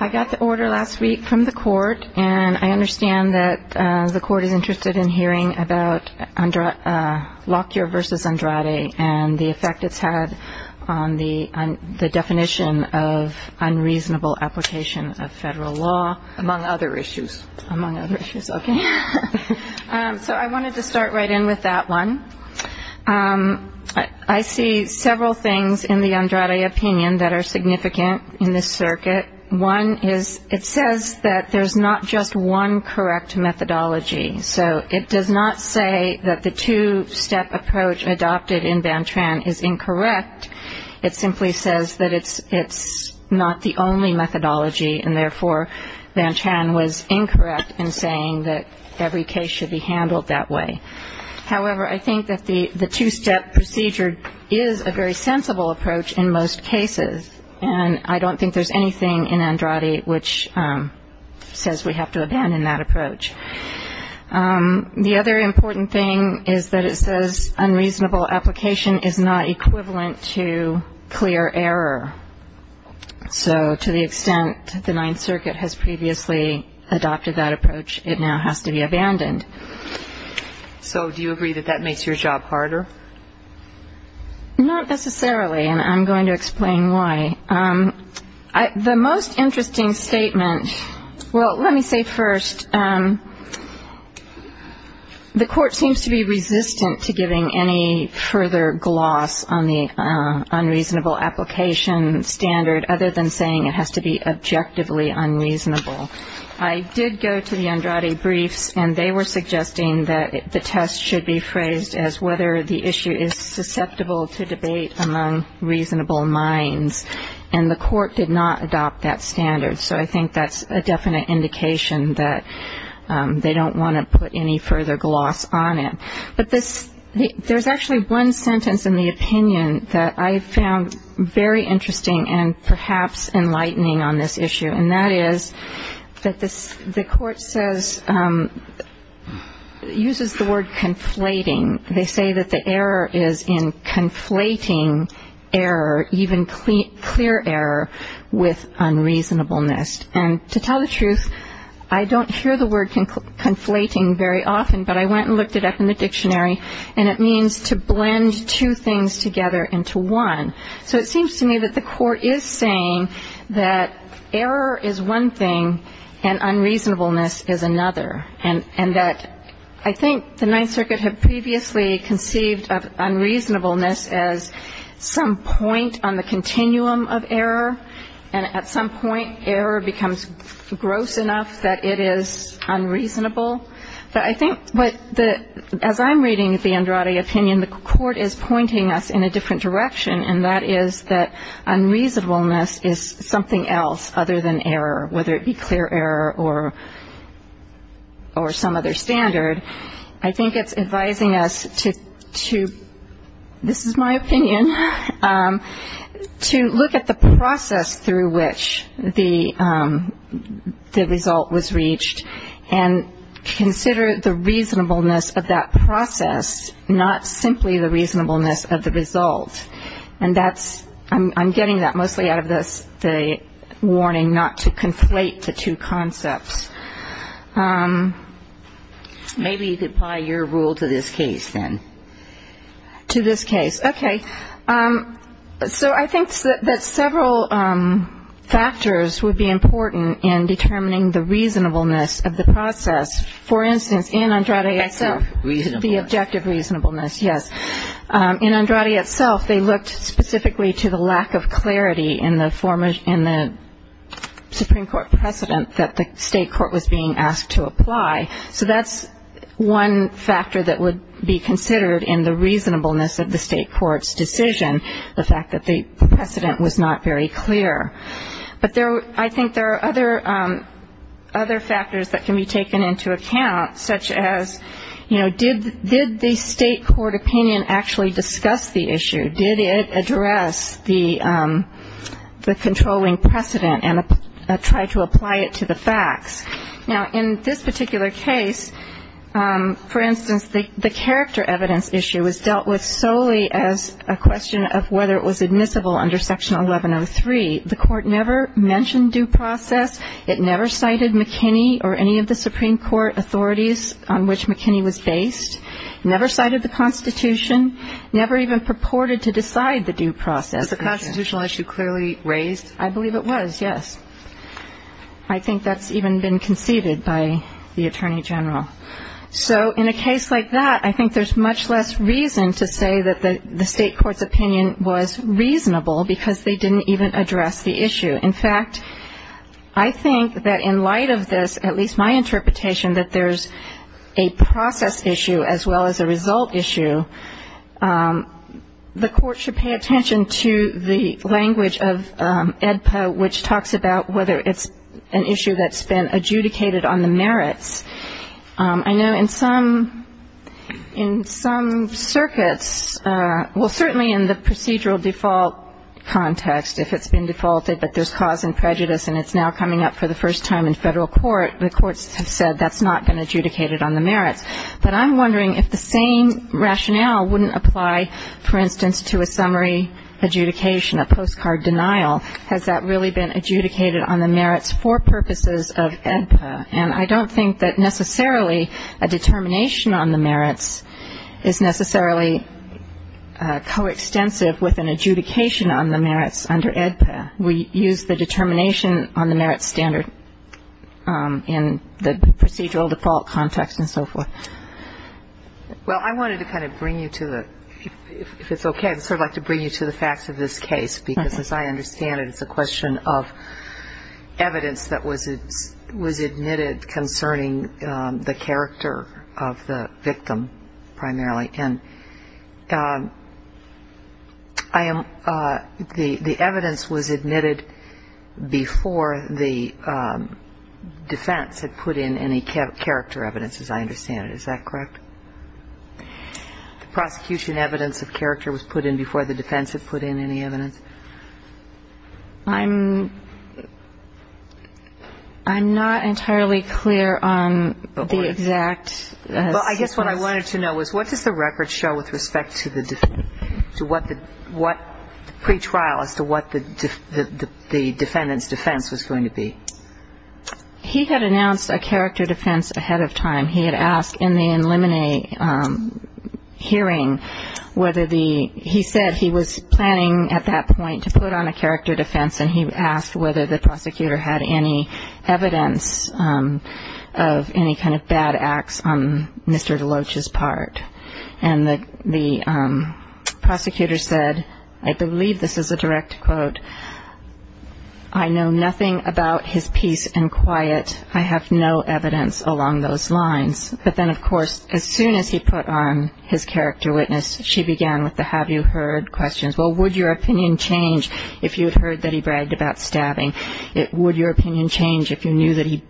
I got the order last week from the court and I understand that the court is interested in hearing about Lockyer v. Andrade and the effect it's had on the definition of unreasonable application of federal law. Among other issues. Among other issues, okay. So I wanted to start right in with that one. I see several things in the Andrade opinion that are significant in this circuit. One is it says that there's not just one correct methodology. So it does not say that the two-step approach adopted in Bantran is incorrect. It simply says that it's not the only methodology and therefore Bantran was incorrect in saying that every case should be handled that way. However, I think that the two-step procedure is a very sensible approach in most cases. And I don't think there's anything in Andrade which says we have to abandon that approach. The other important thing is that it says unreasonable application is not equivalent to clear error. So to the extent the Ninth Circuit has previously adopted that approach, it now has to be abandoned. So do you agree that that makes your job harder? Not necessarily and I'm going to explain why. The most interesting statement, well, let me say first, the court seems to be resistant to giving any further gloss on the unreasonable application standard other than saying it has to be objectively unreasonable. I did go to the Andrade briefs that the test should be phrased as whether the issue is susceptible to debate among reasonable minds. And the court did not adopt that standard. So I think that's a definite indication that they don't want to put any further gloss on it. But there's actually one sentence in the opinion that I found very interesting and perhaps enlightening on this issue, and that is that the court says, uses the word conflating. They say that the error is in conflating error, even clear error, with unreasonableness. And to tell the truth, I don't hear the word conflating very often, but I went and looked it up in the dictionary and it means to blend two things together into one. So it seems to me that the court is saying that error is one thing and unreasonableness is another, and that I think the Ninth Circuit had previously conceived of unreasonableness as some point on the continuum of error, and at some point, error becomes gross enough that it is unreasonable. But I think as I'm reading the Andrade opinion, and the court is pointing us in a different direction, and that is that unreasonableness is something else other than error, whether it be clear error or some other standard, I think it's advising us to, this is my opinion, to look at the process through which the result was reached and consider the reasonableness of that process, not simply the reasonableness of the result. And I'm getting that mostly out of the warning not to conflate the two concepts. Maybe you could apply your rule to this case, then. To this case. Okay. So I think that several factors would be important in determining the reasonableness of the process. For instance, in Andrade itself. Objective reasonableness. The objective reasonableness, yes. In Andrade itself, they looked specifically to the lack of clarity in the Supreme Court precedent that the state court was being asked to apply. So that's one factor that would be considered in the reasonableness of the state court's decision, the fact that the precedent was not very clear. But I think there are other factors that can be taken into account, such as, you know, did the state court opinion actually discuss the issue? Did it address the controlling precedent and try to apply it to the facts? Now, in this particular case, for instance, the character evidence issue was dealt with solely as a question of whether it was admissible under Section 1103. The Court never mentioned due process. It never cited McKinney or any of the Supreme Court authorities on which McKinney was based. Never cited the Constitution. Never even purported to decide the due process. Was the constitutional issue clearly raised? I believe it was, yes. I think that's even been conceded by the Attorney General. So in a case like that, I think there's much less reason to say that the state court's opinion was reasonable because they didn't even address the issue. In fact, I think that in light of this, at least my interpretation, that there's a process issue as well as a result issue, the Court should pay attention to the language of AEDPA, which talks about whether it's an issue that's been adjudicated on the merits. I know in some circuits, well, certainly in the procedural default context, if it's been defaulted but there's cause and prejudice and it's now coming up for the first time in federal court, the courts have said that's not been adjudicated on the merits. But I'm wondering if the same rationale wouldn't apply, for instance, to a summary adjudication, a postcard denial. Has that really been adjudicated on the merits for purposes of AEDPA? And I don't think that necessarily a determination on the merits is necessarily coextensive with an adjudication on the merits under AEDPA. We use the determination on the merits standard in the procedural default context and so forth. Well, I wanted to kind of bring you to the, if it's okay, I'd sort of like to bring you to the facts of this case, because as I understand it, it's a question of evidence that was admitted concerning the character of the victim primarily. And I am, the evidence was admitted before the defense had put in any character evidence, as I understand it. Is that correct? The prosecution evidence of character was put in before the defense had put in any evidence? I'm not entirely clear on the exact. Well, I guess what I wanted to know was, what does the record show with respect to the pretrial as to what the defendant's defense was going to be? He had announced a character defense ahead of time. He had asked in the in limine hearing whether the, he said he was planning at that point to put on a character defense, and he asked whether the prosecutor had any evidence of any kind of bad acts on Mr. Deloach's part. And the prosecutor said, I believe this is a direct quote, I know nothing about his peace and quiet. I have no evidence along those lines. But then, of course, as soon as he put on his character witness, she began with the have you heard questions. Well, would your opinion change if you had heard that he bragged about stabbing? Would your opinion change if you knew that he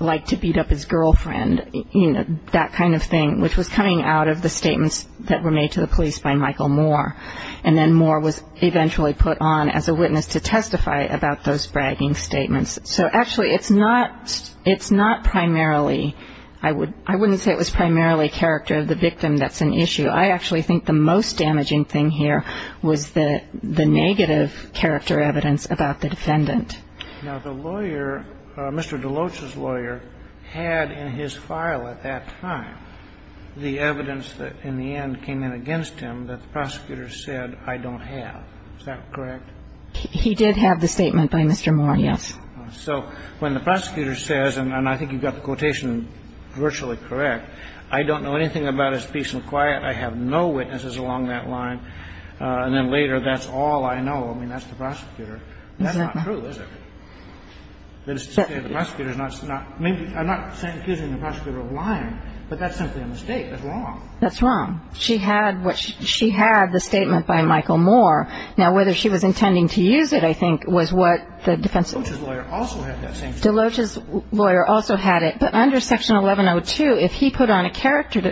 liked to beat up his girlfriend? You know, that kind of thing, which was coming out of the statements that were made to the police by Michael Moore. And then Moore was eventually put on as a witness to testify about those bragging statements. So, actually, it's not primarily, I wouldn't say it was primarily character of the victim that's an issue. I actually think the most damaging thing here was the negative character evidence about the defendant. Now, the lawyer, Mr. Deloach's lawyer, had in his file at that time the evidence that, in the end, came in against him that the prosecutor said, I don't have. Is that correct? He did have the statement by Mr. Moore, yes. So when the prosecutor says, and I think you've got the quotation virtually correct, I don't know anything about his peace and quiet. I have no witnesses along that line. And then later, that's all I know. I mean, that's the prosecutor. That's not true, is it? The prosecutor is not – I'm not accusing the prosecutor of lying, but that's simply a mistake. That's wrong. That's wrong. She had what – she had the statement by Michael Moore. Now, whether she was intending to use it, I think, was what the defense – Deloach's lawyer also had that same statement. Deloach's lawyer also had it. But under Section 1102, if he put on a character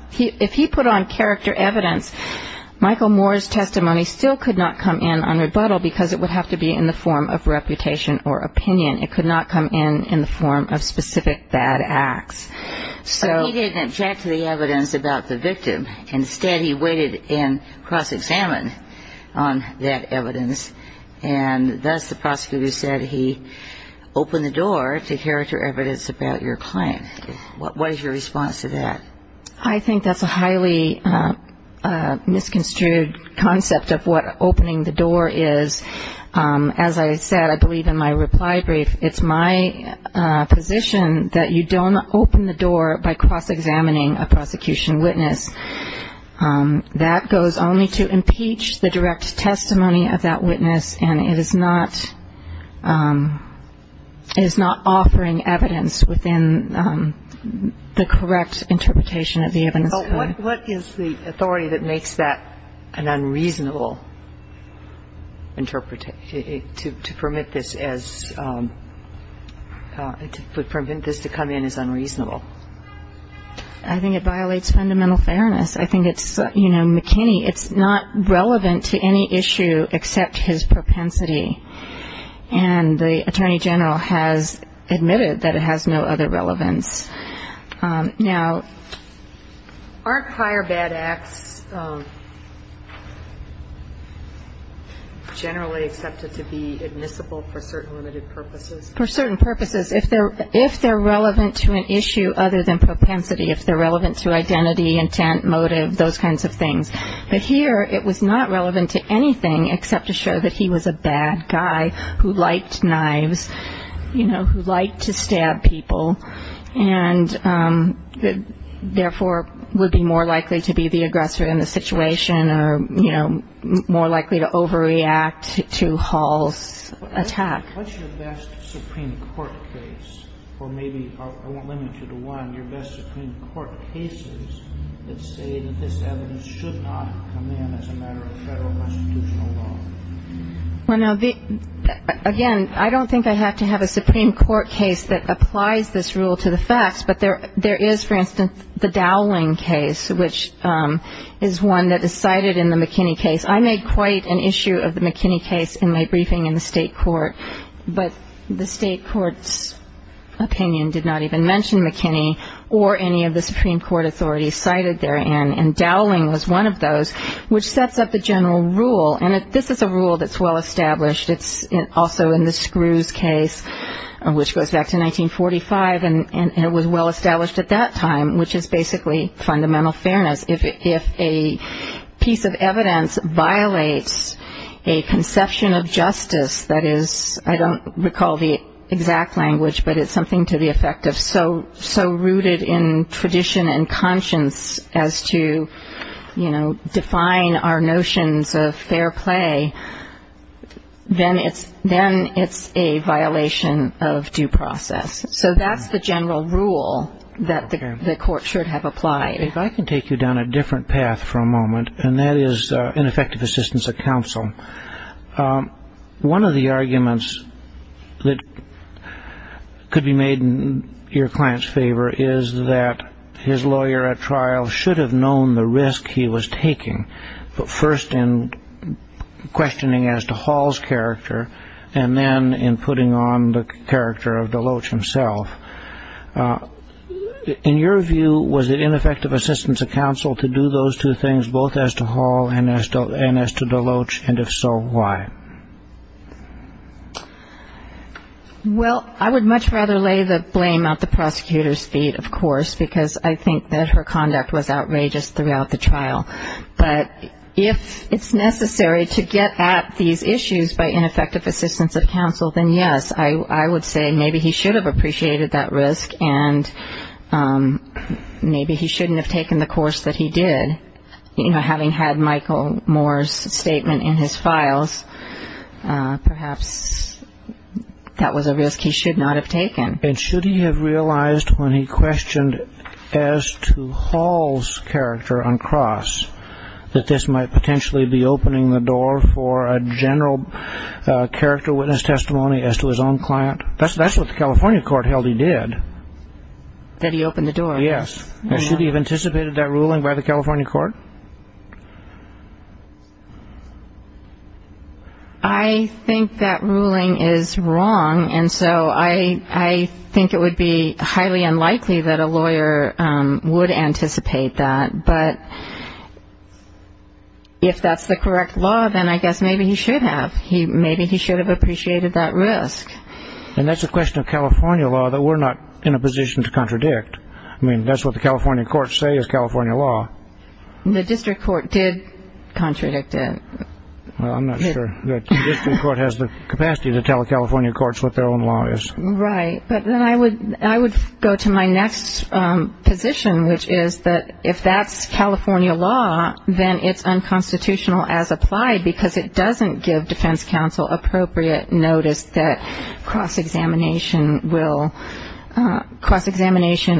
– if he put on character evidence, Michael Moore's testimony still could not come in on rebuttal because it would have to be in the form of reputation or opinion. It could not come in in the form of specific bad acts. So he didn't object to the evidence about the victim. Instead, he waited and cross-examined on that evidence. And thus the prosecutor said he opened the door to character evidence about your claim. What is your response to that? I think that's a highly misconstrued concept of what opening the door is. As I said, I believe in my reply brief, it's my position that you don't open the door by cross-examining a prosecution witness. That goes only to impeach the direct testimony of that witness, and it is not – it is not offering evidence within the correct interpretation of the evidence. But what is the authority that makes that an unreasonable interpretation to permit this as – to permit this to come in as unreasonable? I think it violates fundamental fairness. I think it's – you know, McKinney, it's not relevant to any issue except his propensity. And the Attorney General has admitted that it has no other relevance. Now, aren't prior bad acts generally accepted to be admissible for certain limited purposes? For certain purposes. If they're relevant to an issue other than propensity, if they're relevant to identity, intent, motive, those kinds of things. But here it was not relevant to anything except to show that he was a bad guy who liked knives, you know, who liked to stab people, and therefore would be more likely to be the aggressor in the situation or, you know, more likely to overreact to Hall's attack. What's your best Supreme Court case? Or maybe – I won't limit you to one. Your best Supreme Court cases that say that this evidence should not come in as a matter of federal constitutional law? Well, now, again, I don't think I have to have a Supreme Court case that applies this rule to the facts. But there is, for instance, the Dowling case, which is one that is cited in the McKinney case. I made quite an issue of the McKinney case in my briefing in the state court, but the state court's opinion did not even mention McKinney or any of the Supreme Court authorities cited therein. And Dowling was one of those, which sets up the general rule. And this is a rule that's well established. It's also in the Screws case, which goes back to 1945, and it was well established at that time, which is basically fundamental fairness. If a piece of evidence violates a conception of justice that is – I don't recall the exact language, but it's something to the effect of so rooted in tradition and conscience as to define our notions of fair play, then it's a violation of due process. So that's the general rule that the court should have applied. If I can take you down a different path for a moment, and that is ineffective assistance of counsel. One of the arguments that could be made in your client's favor is that his lawyer at trial should have known the risk he was taking, but first in questioning as to Hall's character and then in putting on the character of Deloach himself. In your view, was it ineffective assistance of counsel to do those two things, both as to Hall and as to Deloach, and if so, why? Well, I would much rather lay the blame at the prosecutor's feet, of course, because I think that her conduct was outrageous throughout the trial. But if it's necessary to get at these issues by ineffective assistance of counsel, then yes, I would say maybe he should have appreciated that risk and maybe he shouldn't have taken the course that he did. Having had Michael Moore's statement in his files, perhaps that was a risk he should not have taken. And should he have realized when he questioned as to Hall's character on cross that this might potentially be opening the door for a general character witness testimony as to his own client? That's what the California court held he did. That he opened the door. Yes. Should he have anticipated that ruling by the California court? I think that ruling is wrong, and so I think it would be highly unlikely that a lawyer would anticipate that. But if that's the correct law, then I guess maybe he should have. Maybe he should have appreciated that risk. And that's a question of California law that we're not in a position to contradict. I mean, that's what the California courts say is California law. The district court did contradict it. Well, I'm not sure the district court has the capacity to tell California courts what their own law is. Right. But then I would go to my next position, which is that if that's California law, then it's unconstitutional as applied because it doesn't give defense counsel appropriate notice that cross-examination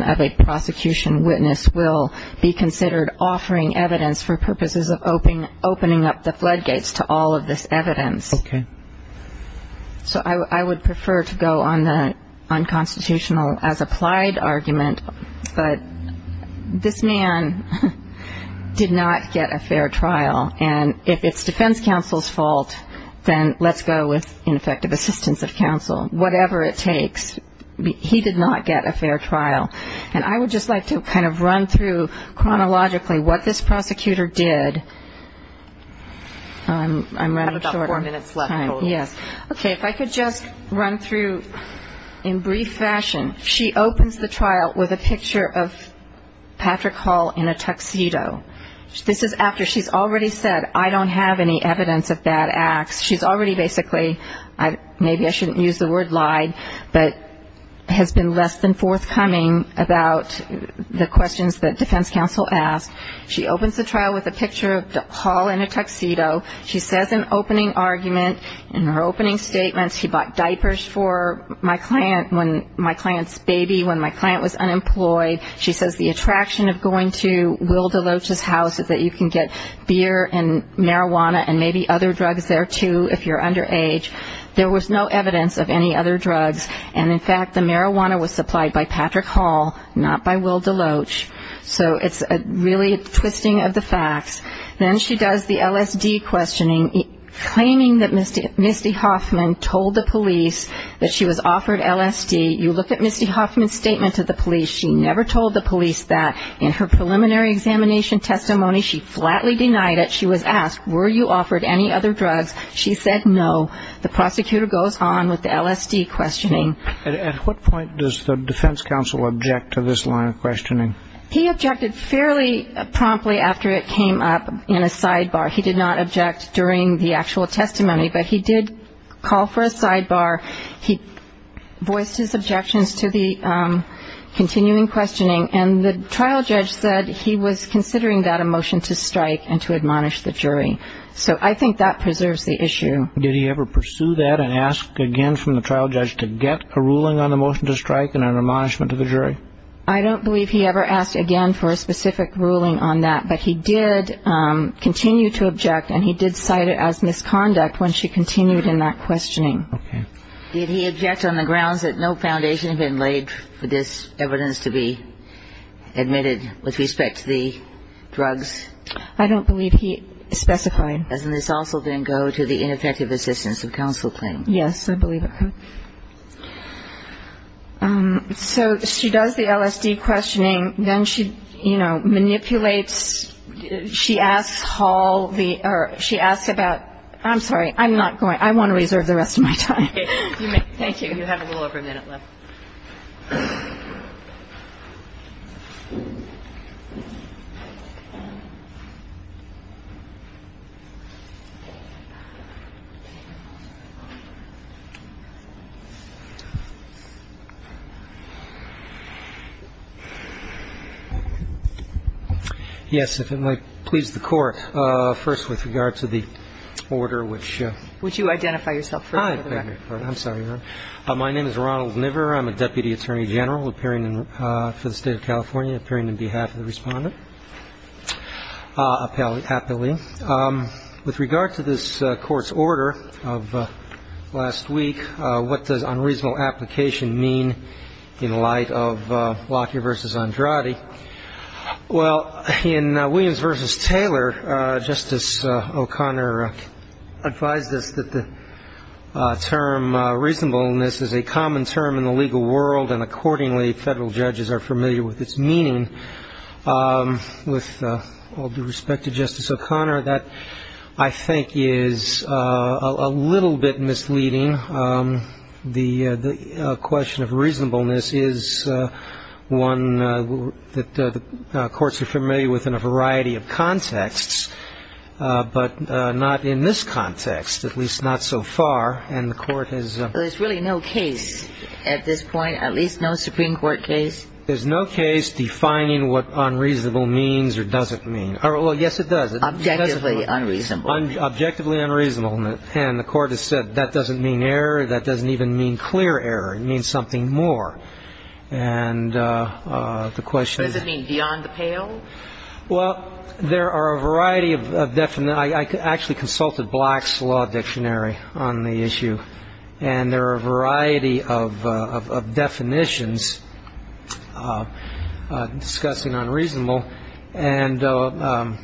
of a prosecution witness will be considered offering evidence for purposes of opening up the floodgates to all of this evidence. Okay. So I would prefer to go on the unconstitutional as applied argument. But this man did not get a fair trial, and if it's defense counsel's fault, then let's go with ineffective assistance of counsel. Whatever it takes. He did not get a fair trial. And I would just like to kind of run through chronologically what this prosecutor did. I'm running short on time. Okay. If I could just run through in brief fashion. She opens the trial with a picture of Patrick Hall in a tuxedo. This is after she's already said, I don't have any evidence of bad acts. She's already basically, maybe I shouldn't use the word lied, but has been less than forthcoming about the questions that defense counsel asked. She opens the trial with a picture of Hall in a tuxedo. She says an opening argument. In her opening statements, she bought diapers for my client's baby when my client was unemployed. She says the attraction of going to Will DeLoach's house is that you can get beer and marijuana and maybe other drugs there, too, if you're underage. There was no evidence of any other drugs. And, in fact, the marijuana was supplied by Patrick Hall, not by Will DeLoach. So it's really a twisting of the facts. Then she does the LSD questioning, claiming that Misty Hoffman told the police that she was offered LSD. You look at Misty Hoffman's statement to the police. She never told the police that. In her preliminary examination testimony, she flatly denied it. She was asked, were you offered any other drugs? She said no. The prosecutor goes on with the LSD questioning. At what point does the defense counsel object to this line of questioning? He objected fairly promptly after it came up in a sidebar. He did not object during the actual testimony, but he did call for a sidebar. He voiced his objections to the continuing questioning, and the trial judge said he was considering that a motion to strike and to admonish the jury. So I think that preserves the issue. Did he ever pursue that and ask again from the trial judge to get a ruling on the motion to strike and an admonishment to the jury? I don't believe he ever asked again for a specific ruling on that, but he did continue to object and he did cite it as misconduct when she continued in that questioning. Did he object on the grounds that no foundation had been laid for this evidence to be admitted with respect to the drugs? I don't believe he specified. Doesn't this also then go to the ineffective assistance of counsel claim? Yes, I believe it could. So she does the LSD questioning. Then she, you know, manipulates. She asks Hall the or she asks about. I'm sorry. I'm not going. I want to reserve the rest of my time. Thank you. You have a little over a minute left. Yes, if it might please the Court. First, with regard to the order which. Which you identify yourself for. I'm sorry. My name is Ronald Niver. I'm a deputy attorney general appearing for the state of California, appearing on behalf of the respondent. Appellee. With regard to this court's order of last week, what does unreasonable application mean in light of Lockyer versus Andrade? Well, in Williams versus Taylor, Justice O'Connor advised us that the term reasonableness is a common term in the legal world, and accordingly federal judges are familiar with its meaning. With all due respect to Justice O'Connor, that I think is a little bit misleading. The question of reasonableness is one that the courts are familiar with in a variety of contexts, but not in this context, at least not so far. And the court has. There's really no case at this point, at least no Supreme Court case. There's no case defining what unreasonable means or doesn't mean. Well, yes, it does. Objectively unreasonable. Objectively unreasonable. And the court has said that doesn't mean error. That doesn't even mean clear error. It means something more. And the question is. Does it mean beyond the pale? Well, there are a variety of definitions. I actually consulted Black's Law Dictionary on the issue, and there are a variety of definitions discussing unreasonable. And a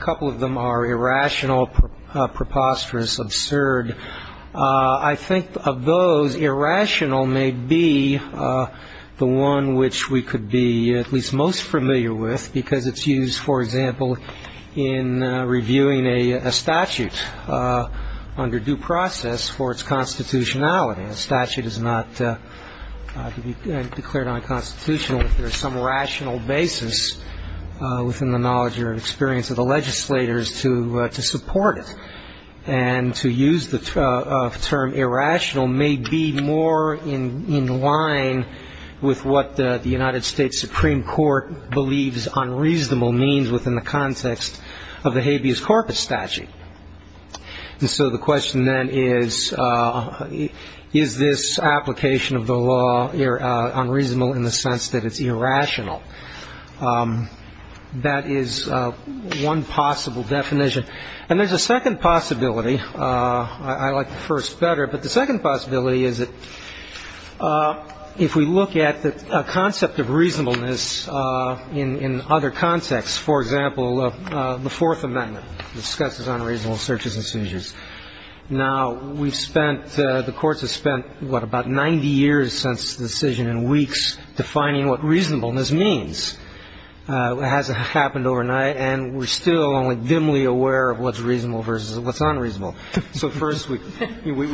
couple of them are irrational, preposterous, absurd. I think of those, irrational may be the one which we could be at least most familiar with, because it's used, for example, in reviewing a statute under due process for its constitutionality. A statute is not declared unconstitutional if there is some rational basis within the knowledge or experience of the legislators to support it. And to use the term irrational may be more in line with what the United States Supreme Court believes unreasonable means within the context of the habeas corpus statute. And so the question then is, is this application of the law unreasonable in the sense that it's irrational? That is one possible definition. And there's a second possibility. I like the first better. But the second possibility is that if we look at the concept of reasonableness in other contexts, for example, the Fourth Amendment discusses unreasonable searches and seizures. Now, we've spent the courts have spent what, about 90 years since the decision in weeks defining what reasonableness means. It hasn't happened overnight, and we're still only dimly aware of what's reasonable versus what's unreasonable. So first we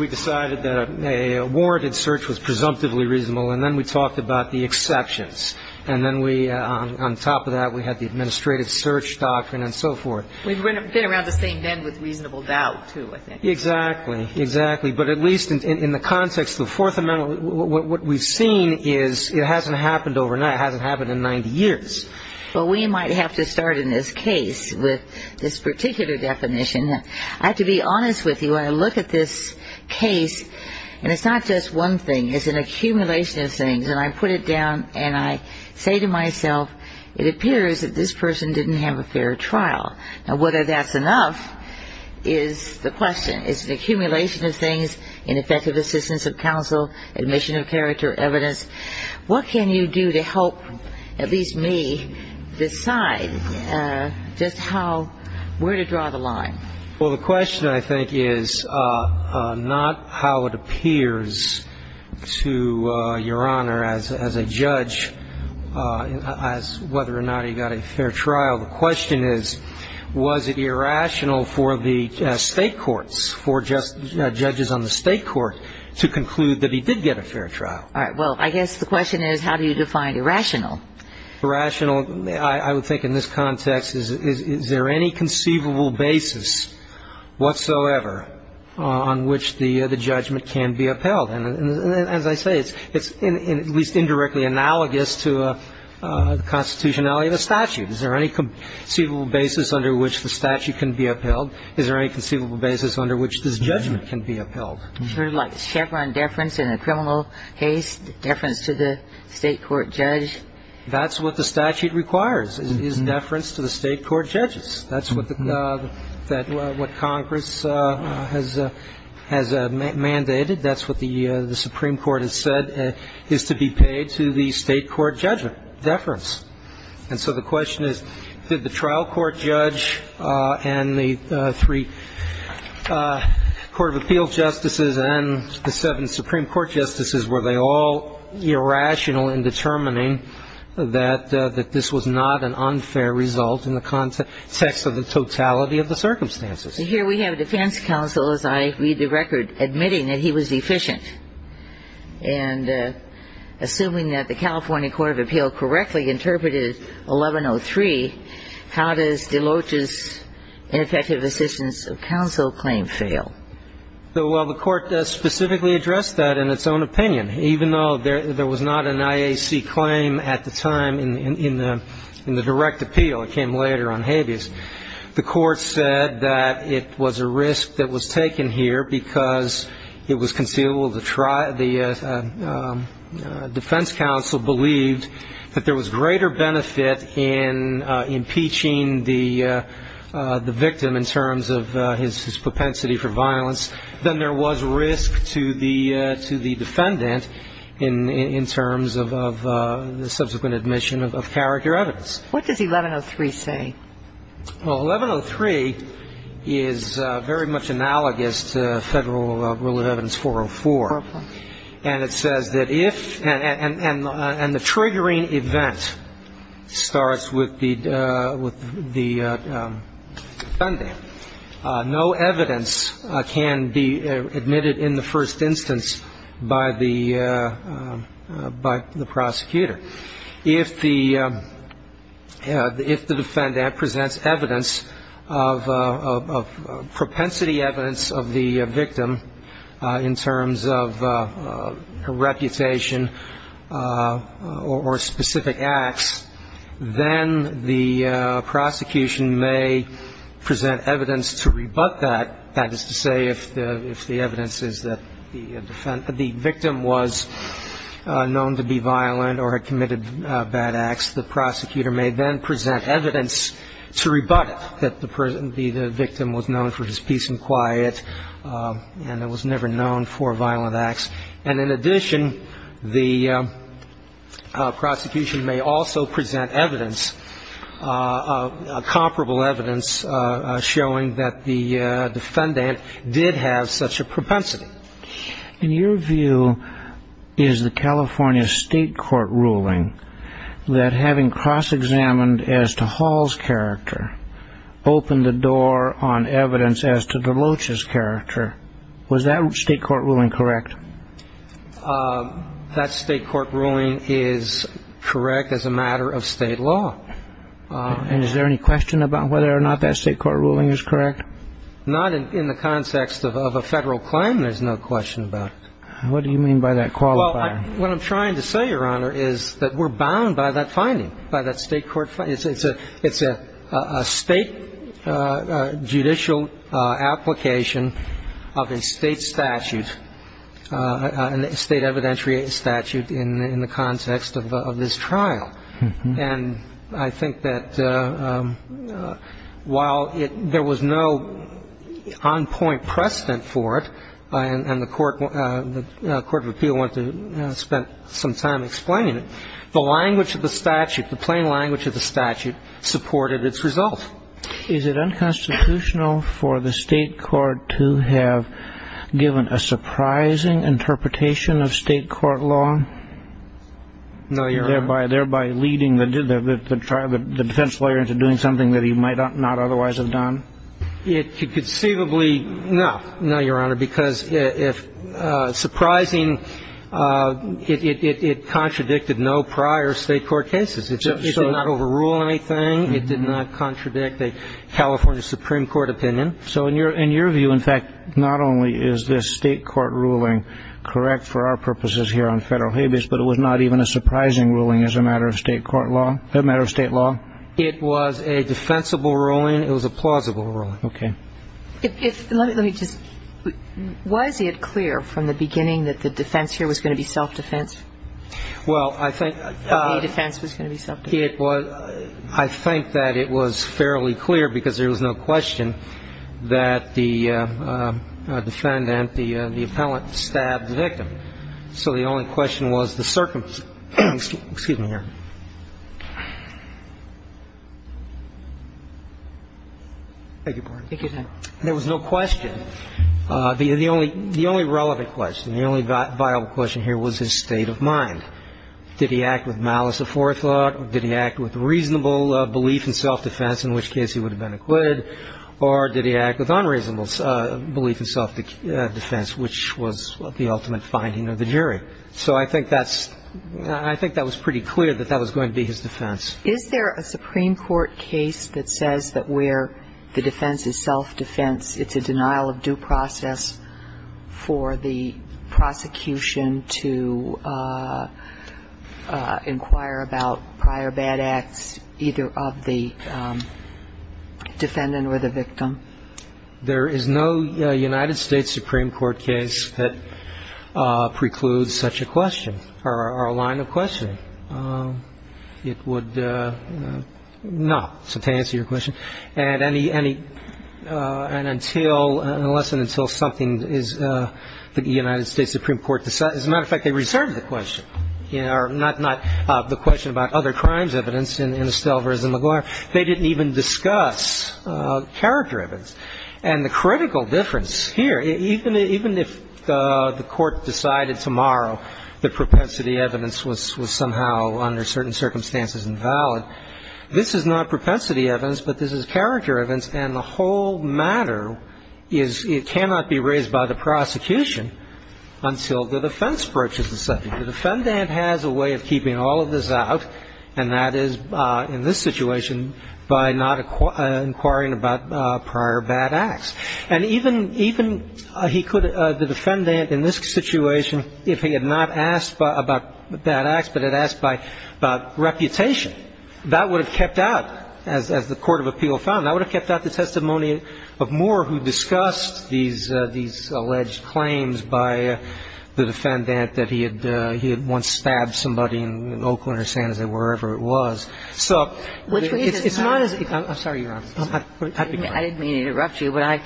decided that a warranted search was presumptively reasonable, and then we talked about the exceptions. And then we, on top of that, we had the administrative search doctrine and so forth. We've been around the same bend with reasonable doubt, too, I think. Exactly. Exactly. But at least in the context of the Fourth Amendment, what we've seen is it hasn't happened overnight. It hasn't happened in 90 years. Well, we might have to start in this case with this particular definition. I have to be honest with you. When I look at this case, and it's not just one thing. It's an accumulation of things. And I put it down, and I say to myself, it appears that this person didn't have a fair trial. Now, whether that's enough is the question. It's an accumulation of things, ineffective assistance of counsel, admission of character, evidence. What can you do to help at least me decide just how, where to draw the line? Well, the question, I think, is not how it appears to Your Honor as a judge as whether or not he got a fair trial. The question is, was it irrational for the state courts, for judges on the state court to conclude that he did get a fair trial? All right. Well, I guess the question is, how do you define irrational? Irrational, I would think in this context, is there any conceivable basis whatsoever on which the judgment can be upheld? And as I say, it's at least indirectly analogous to the constitutionality of a statute. Is there any conceivable basis under which the statute can be upheld? Is there any conceivable basis under which this judgment can be upheld? Sure, like Chevron deference in a criminal case, deference to the state court judge. That's what the statute requires, is deference to the state court judges. That's what Congress has mandated. That's what the Supreme Court has said is to be paid to the state court judgment, deference. And so the question is, did the trial court judge and the three court of appeals justices and the seven Supreme Court justices, were they all irrational in determining that this was not an unfair result in the context of the totality of the circumstances? Here we have a defense counsel, as I read the record, admitting that he was deficient. And assuming that the California Court of Appeal correctly interpreted 1103, how does DeLoach's ineffective assistance of counsel claim fail? Well, the Court specifically addressed that in its own opinion. Even though there was not an IAC claim at the time in the direct appeal, it came later on habeas, the Court said that it was a risk that was taken here because it was conceivable the defense counsel believed that there was greater benefit in impeaching the victim in terms of his propensity for violence than there was risk to the defendant in terms of the subsequent admission of character evidence. What does 1103 say? Well, 1103 is very much analogous to Federal Rule of Evidence 404. And it says that if, and the triggering event starts with the defendant, no evidence can be admitted in the first instance by the prosecutor. If the defendant presents evidence of propensity evidence of the victim in terms of reputation or specific acts, then the prosecution may present evidence to rebut that, that is to say if the evidence is that the victim was known to be violent or had committed bad acts, the prosecutor may then present evidence to rebut that the victim was known for his peace and quiet and was never known for violent acts. And in addition, the prosecution may also present evidence, comparable evidence, showing that the defendant did have such a propensity. And your view is the California State Court ruling that having cross-examined as to Hall's character opened the door on evidence as to DeLoach's character. Was that State Court ruling correct? That State Court ruling is correct as a matter of State law. And is there any question about whether or not that State Court ruling is correct? Not in the context of a Federal claim, there's no question about it. What do you mean by that qualifier? Well, what I'm trying to say, Your Honor, is that we're bound by that finding, by that State Court finding. It's a State judicial application of a State statute, a State evidentiary statute in the context of this trial. And I think that while there was no on-point precedent for it, and the Court of Appeal went to spend some time explaining it, the language of the statute, the plain language of the statute, supported its result. Is it unconstitutional for the State court to have given a surprising interpretation of State court law? No, Your Honor. Thereby leading the defense lawyer into doing something that he might not otherwise have done? Conceivably, no. No, Your Honor, because surprising, it contradicted no prior State court cases. It did not overrule anything. It did not contradict a California Supreme Court opinion. So in your view, in fact, not only is this State court ruling correct for our purposes here on Federal habeas, but it was not even a surprising ruling as a matter of State law? It was a defensible ruling. It was a plausible ruling. Okay. Let me just, was it clear from the beginning that the defense here was going to be self-defense? Well, I think the defense was going to be self-defense. I think that it was fairly clear, because there was no question, that the defendant, the appellant, stabbed the victim. So the only question was the circumstance. Excuse me, Your Honor. There was no question. The only relevant question, the only viable question here was his state of mind. Did he act with malice or forethought? Did he act with reasonable belief in self-defense, in which case he would have been acquitted? Or did he act with unreasonable belief in self-defense, which was the ultimate finding of the jury? So I think that's – I think that was pretty clear that that was going to be his defense. Is there a Supreme Court case that says that where the defense is self-defense, it's a denial of due process for the prosecution to inquire about prior bad acts, either of the defendant or the victim? There is no United States Supreme Court case that precludes such a question or a line of questioning. It would not. So to answer your question, and any – and until – unless and until something is – the United States Supreme Court – as a matter of fact, they reserved the question, or not the question about other crimes evidence in Estalvis and LaGuardia. They didn't even discuss character evidence. And the critical difference here, even if the Court decided tomorrow that propensity evidence was somehow under certain circumstances invalid, this is not propensity evidence, but this is character evidence. And the whole matter is it cannot be raised by the prosecution until the defense approaches the subject. The defendant has a way of keeping all of this out, and that is, in this situation, by not inquiring about prior bad acts. And even – even he could – the defendant in this situation, if he had not asked about bad acts, but had asked about reputation, that would have kept out, as the court of appeal found. That would have kept out the testimony of Moore, who discussed these alleged claims by the defendant that he had once stabbed somebody in Oakland or San Jose, wherever it was. So it's not as if – I'm sorry, Your Honor. I beg your pardon.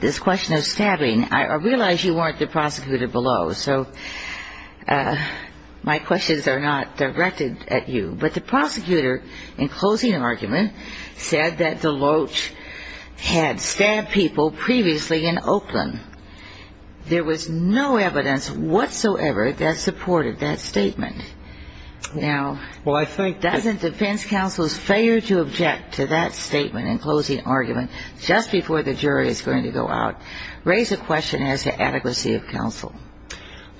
This question of stabbing, I realize you weren't the prosecutor below, so my questions are not directed at you. But the prosecutor, in closing argument, said that DeLoach had stabbed people previously in Oakland. There was no evidence whatsoever that supported that statement. Now, doesn't defense counsels fail to object to that statement in closing argument just before the jury is going to go out? Raise a question as to adequacy of counsel.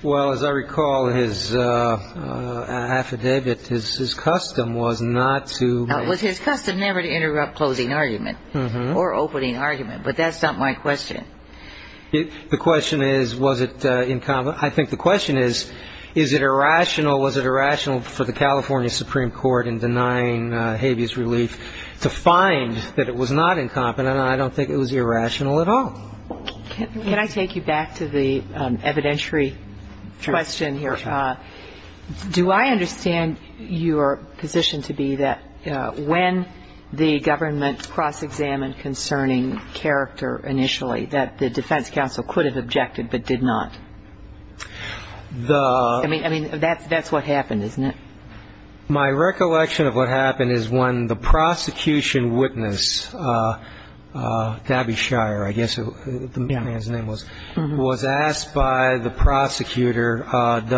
Well, as I recall, his affidavit, his custom was not to – It was his custom never to interrupt closing argument or opening argument, but that's not my question. The question is, was it – I think the question is, is it irrational, was it irrational for the California Supreme Court, in denying habeas relief, to find that it was not incompetent? And I don't think it was irrational at all. Can I take you back to the evidentiary question here? Sure. Do I understand your position to be that when the government cross-examined concerning character initially, that the defense counsel could have objected but did not? I mean, that's what happened, isn't it? My recollection of what happened is when the prosecution witness, Gabby Shire, I guess the man's name was, was asked by the prosecutor, did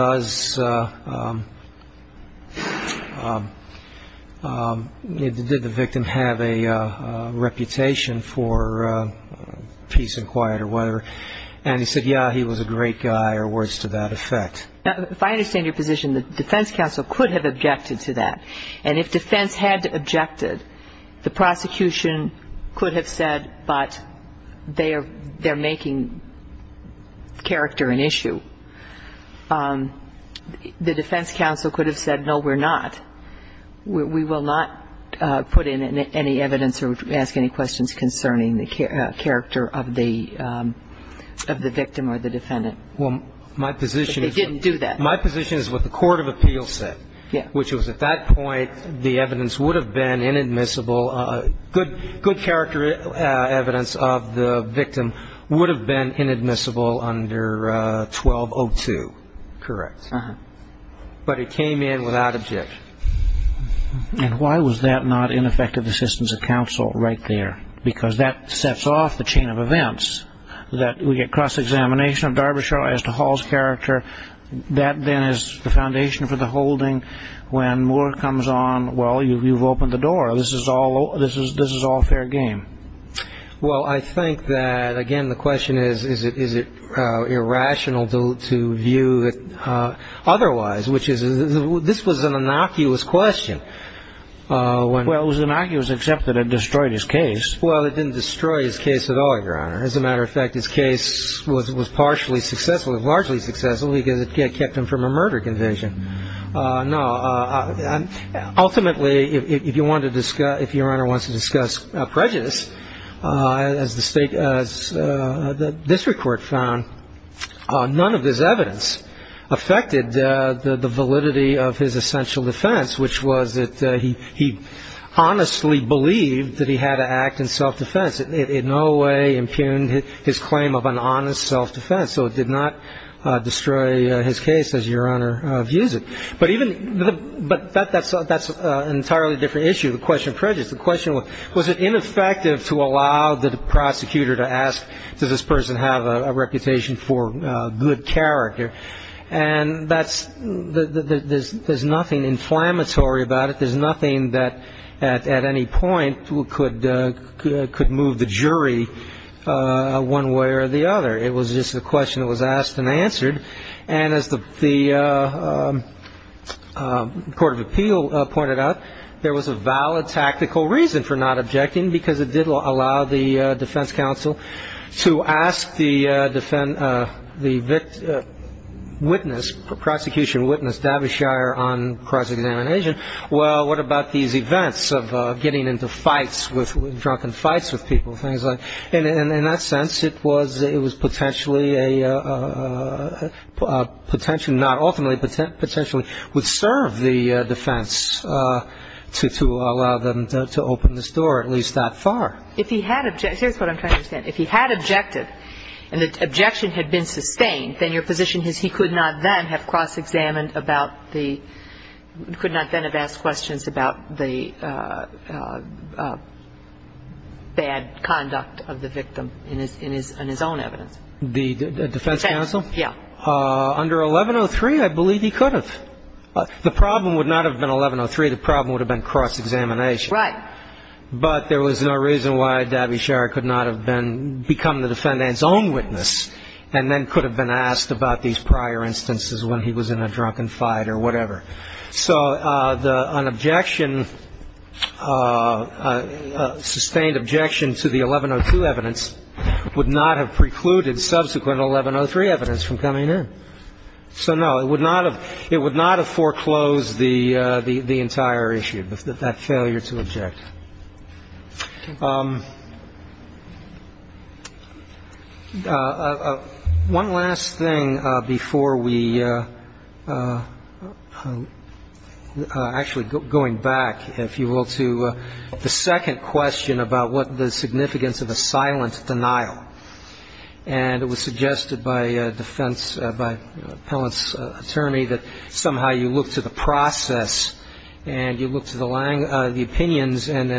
the victim have a reputation for peace and quiet or whatever, and he said, yeah, he was a great guy, or words to that effect. Now, if I understand your position, the defense counsel could have objected to that. And if defense had objected, the prosecution could have said, but they're making character an issue. The defense counsel could have said, no, we're not. We will not put in any evidence or ask any questions concerning the character of the victim or the defendant. Well, my position is what the court of appeals said, which was at that point the evidence would have been inadmissible. Good character evidence of the victim would have been inadmissible under 1202. Correct. But it came in without objection. And why was that not ineffective assistance of counsel right there? Because that sets off the chain of events that we get cross-examination of Darbyshire as to Hall's character. That then is the foundation for the holding. When Moore comes on, well, you've opened the door. This is all fair game. Well, I think that, again, the question is, is it irrational to view it otherwise, which is this was an innocuous question. Well, it was innocuous except that it destroyed his case. Well, it didn't destroy his case at all, Your Honor. As a matter of fact, his case was partially successful, largely successful, because it kept him from a murder conviction. No. Ultimately, if Your Honor wants to discuss prejudice, as the district court found, none of this evidence affected the validity of his essential defense, which was that he honestly believed that he had to act in self-defense. It in no way impugned his claim of an honest self-defense. So it did not destroy his case, as Your Honor views it. But that's an entirely different issue, the question of prejudice. The question was, was it ineffective to allow the prosecutor to ask, does this person have a reputation for good character? And there's nothing inflammatory about it. There's nothing that at any point could move the jury one way or the other. It was just a question that was asked and answered. And as the court of appeal pointed out, there was a valid tactical reason for not objecting, because it did allow the defense counsel to ask the witness, prosecution witness, Davish Shire on cross-examination, well, what about these events of getting into fights, drunken fights with people, things like that. And in that sense, it was potentially a potential, not ultimately, but potentially would serve the defense to allow them to open this door at least that far. If he had objected, here's what I'm trying to understand. If he had objected and the objection had been sustained, then your position is he could not then have cross-examined about the, could not then have asked questions about the bad conduct of the victim in his own evidence. The defense counsel? Yeah. Under 1103, I believe he could have. The problem would not have been 1103. The problem would have been cross-examination. Right. But there was no reason why Davish Shire could not have been, become the defendant's own witness and then could have been asked about these prior instances when he was in a drunken fight or whatever. So an objection, sustained objection to the 1102 evidence would not have precluded subsequent 1103 evidence from coming in. So, no, it would not have foreclosed the entire issue, that failure to object. One last thing before we, actually going back, if you will, to the second question about what the significance of a silent denial. And it was suggested by a defense, by an appellant's attorney, that somehow you look to the process and you look to the opinions and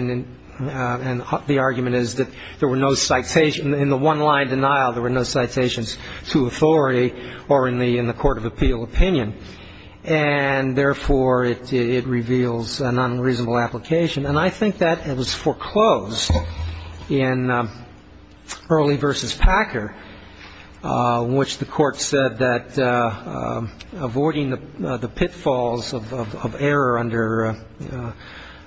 the argument is that there were no citations, in the one-line denial, there were no citations to authority or in the court of appeal opinion. And, therefore, it reveals an unreasonable application. And I think that it was foreclosed in Early v. Packer, in which the court said that avoiding the pitfalls of error under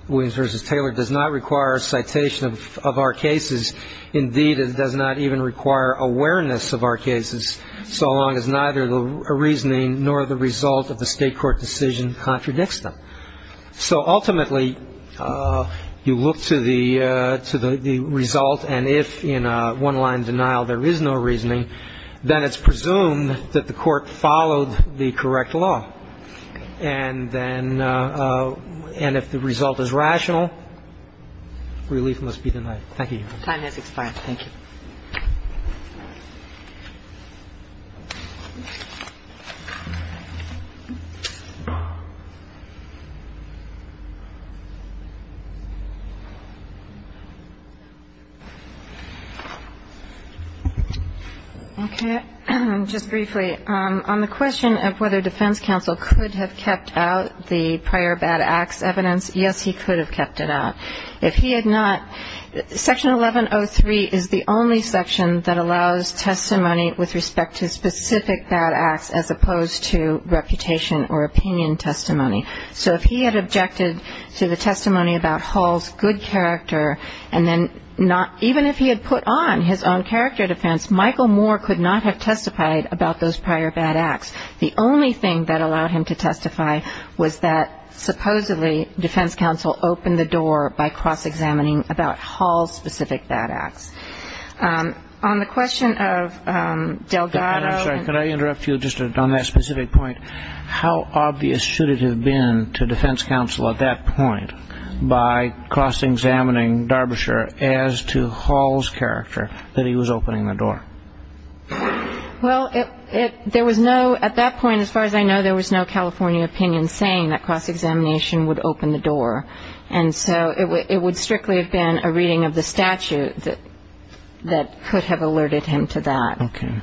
Williams v. Taylor does not require a citation of our cases. Indeed, it does not even require awareness of our cases, so long as neither the reasoning nor the result of the state court decision contradicts them. So, ultimately, you look to the result and if in a one-line denial there is no reasoning, then it's presumed that the court followed the correct law. And then if the result is rational, relief must be denied. Thank you, Your Honor. The time has expired. Thank you. Okay. Just briefly, on the question of whether defense counsel could have kept out the prior bad acts evidence, yes, he could have kept it out. If he had not, Section 1103 is the only section that allows testimony with respect to specific bad acts as opposed to reputation or opinion testimony. So if he had objected to the testimony about Hull's good character, and then even if he had put on his own character defense, Michael Moore could not have testified about those prior bad acts. The only thing that allowed him to testify was that, supposedly, defense counsel opened the door by cross-examining about Hull's specific bad acts. On the question of Delgado. I'm sorry. Could I interrupt you just on that specific point? How obvious should it have been to defense counsel at that point by cross-examining Darbyshire as to Hull's character that he was opening the door? Well, there was no, at that point, as far as I know, there was no California opinion saying that cross-examination would open the door. And so it would strictly have been a reading of the statute that could have alerted him to that. Okay.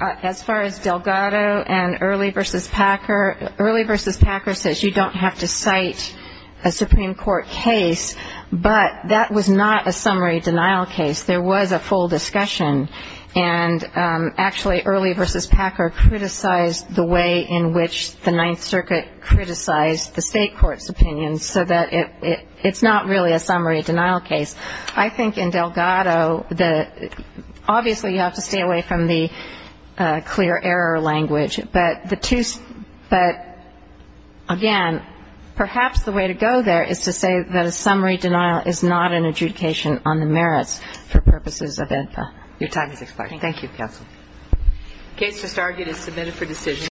As far as Delgado and Early v. Packer, Early v. Packer says you don't have to cite a Supreme Court case, but that was not a summary denial case. There was a full discussion. And actually, Early v. Packer criticized the way in which the Ninth Circuit criticized the state court's opinion so that it's not really a summary denial case. I think in Delgado, obviously, you have to stay away from the clear error language. But, again, perhaps the way to go there is to say that a summary denial is not an adjudication on the merits. For purposes of info. Your time is expiring. Thank you, Counsel. The case just argued is submitted for decision.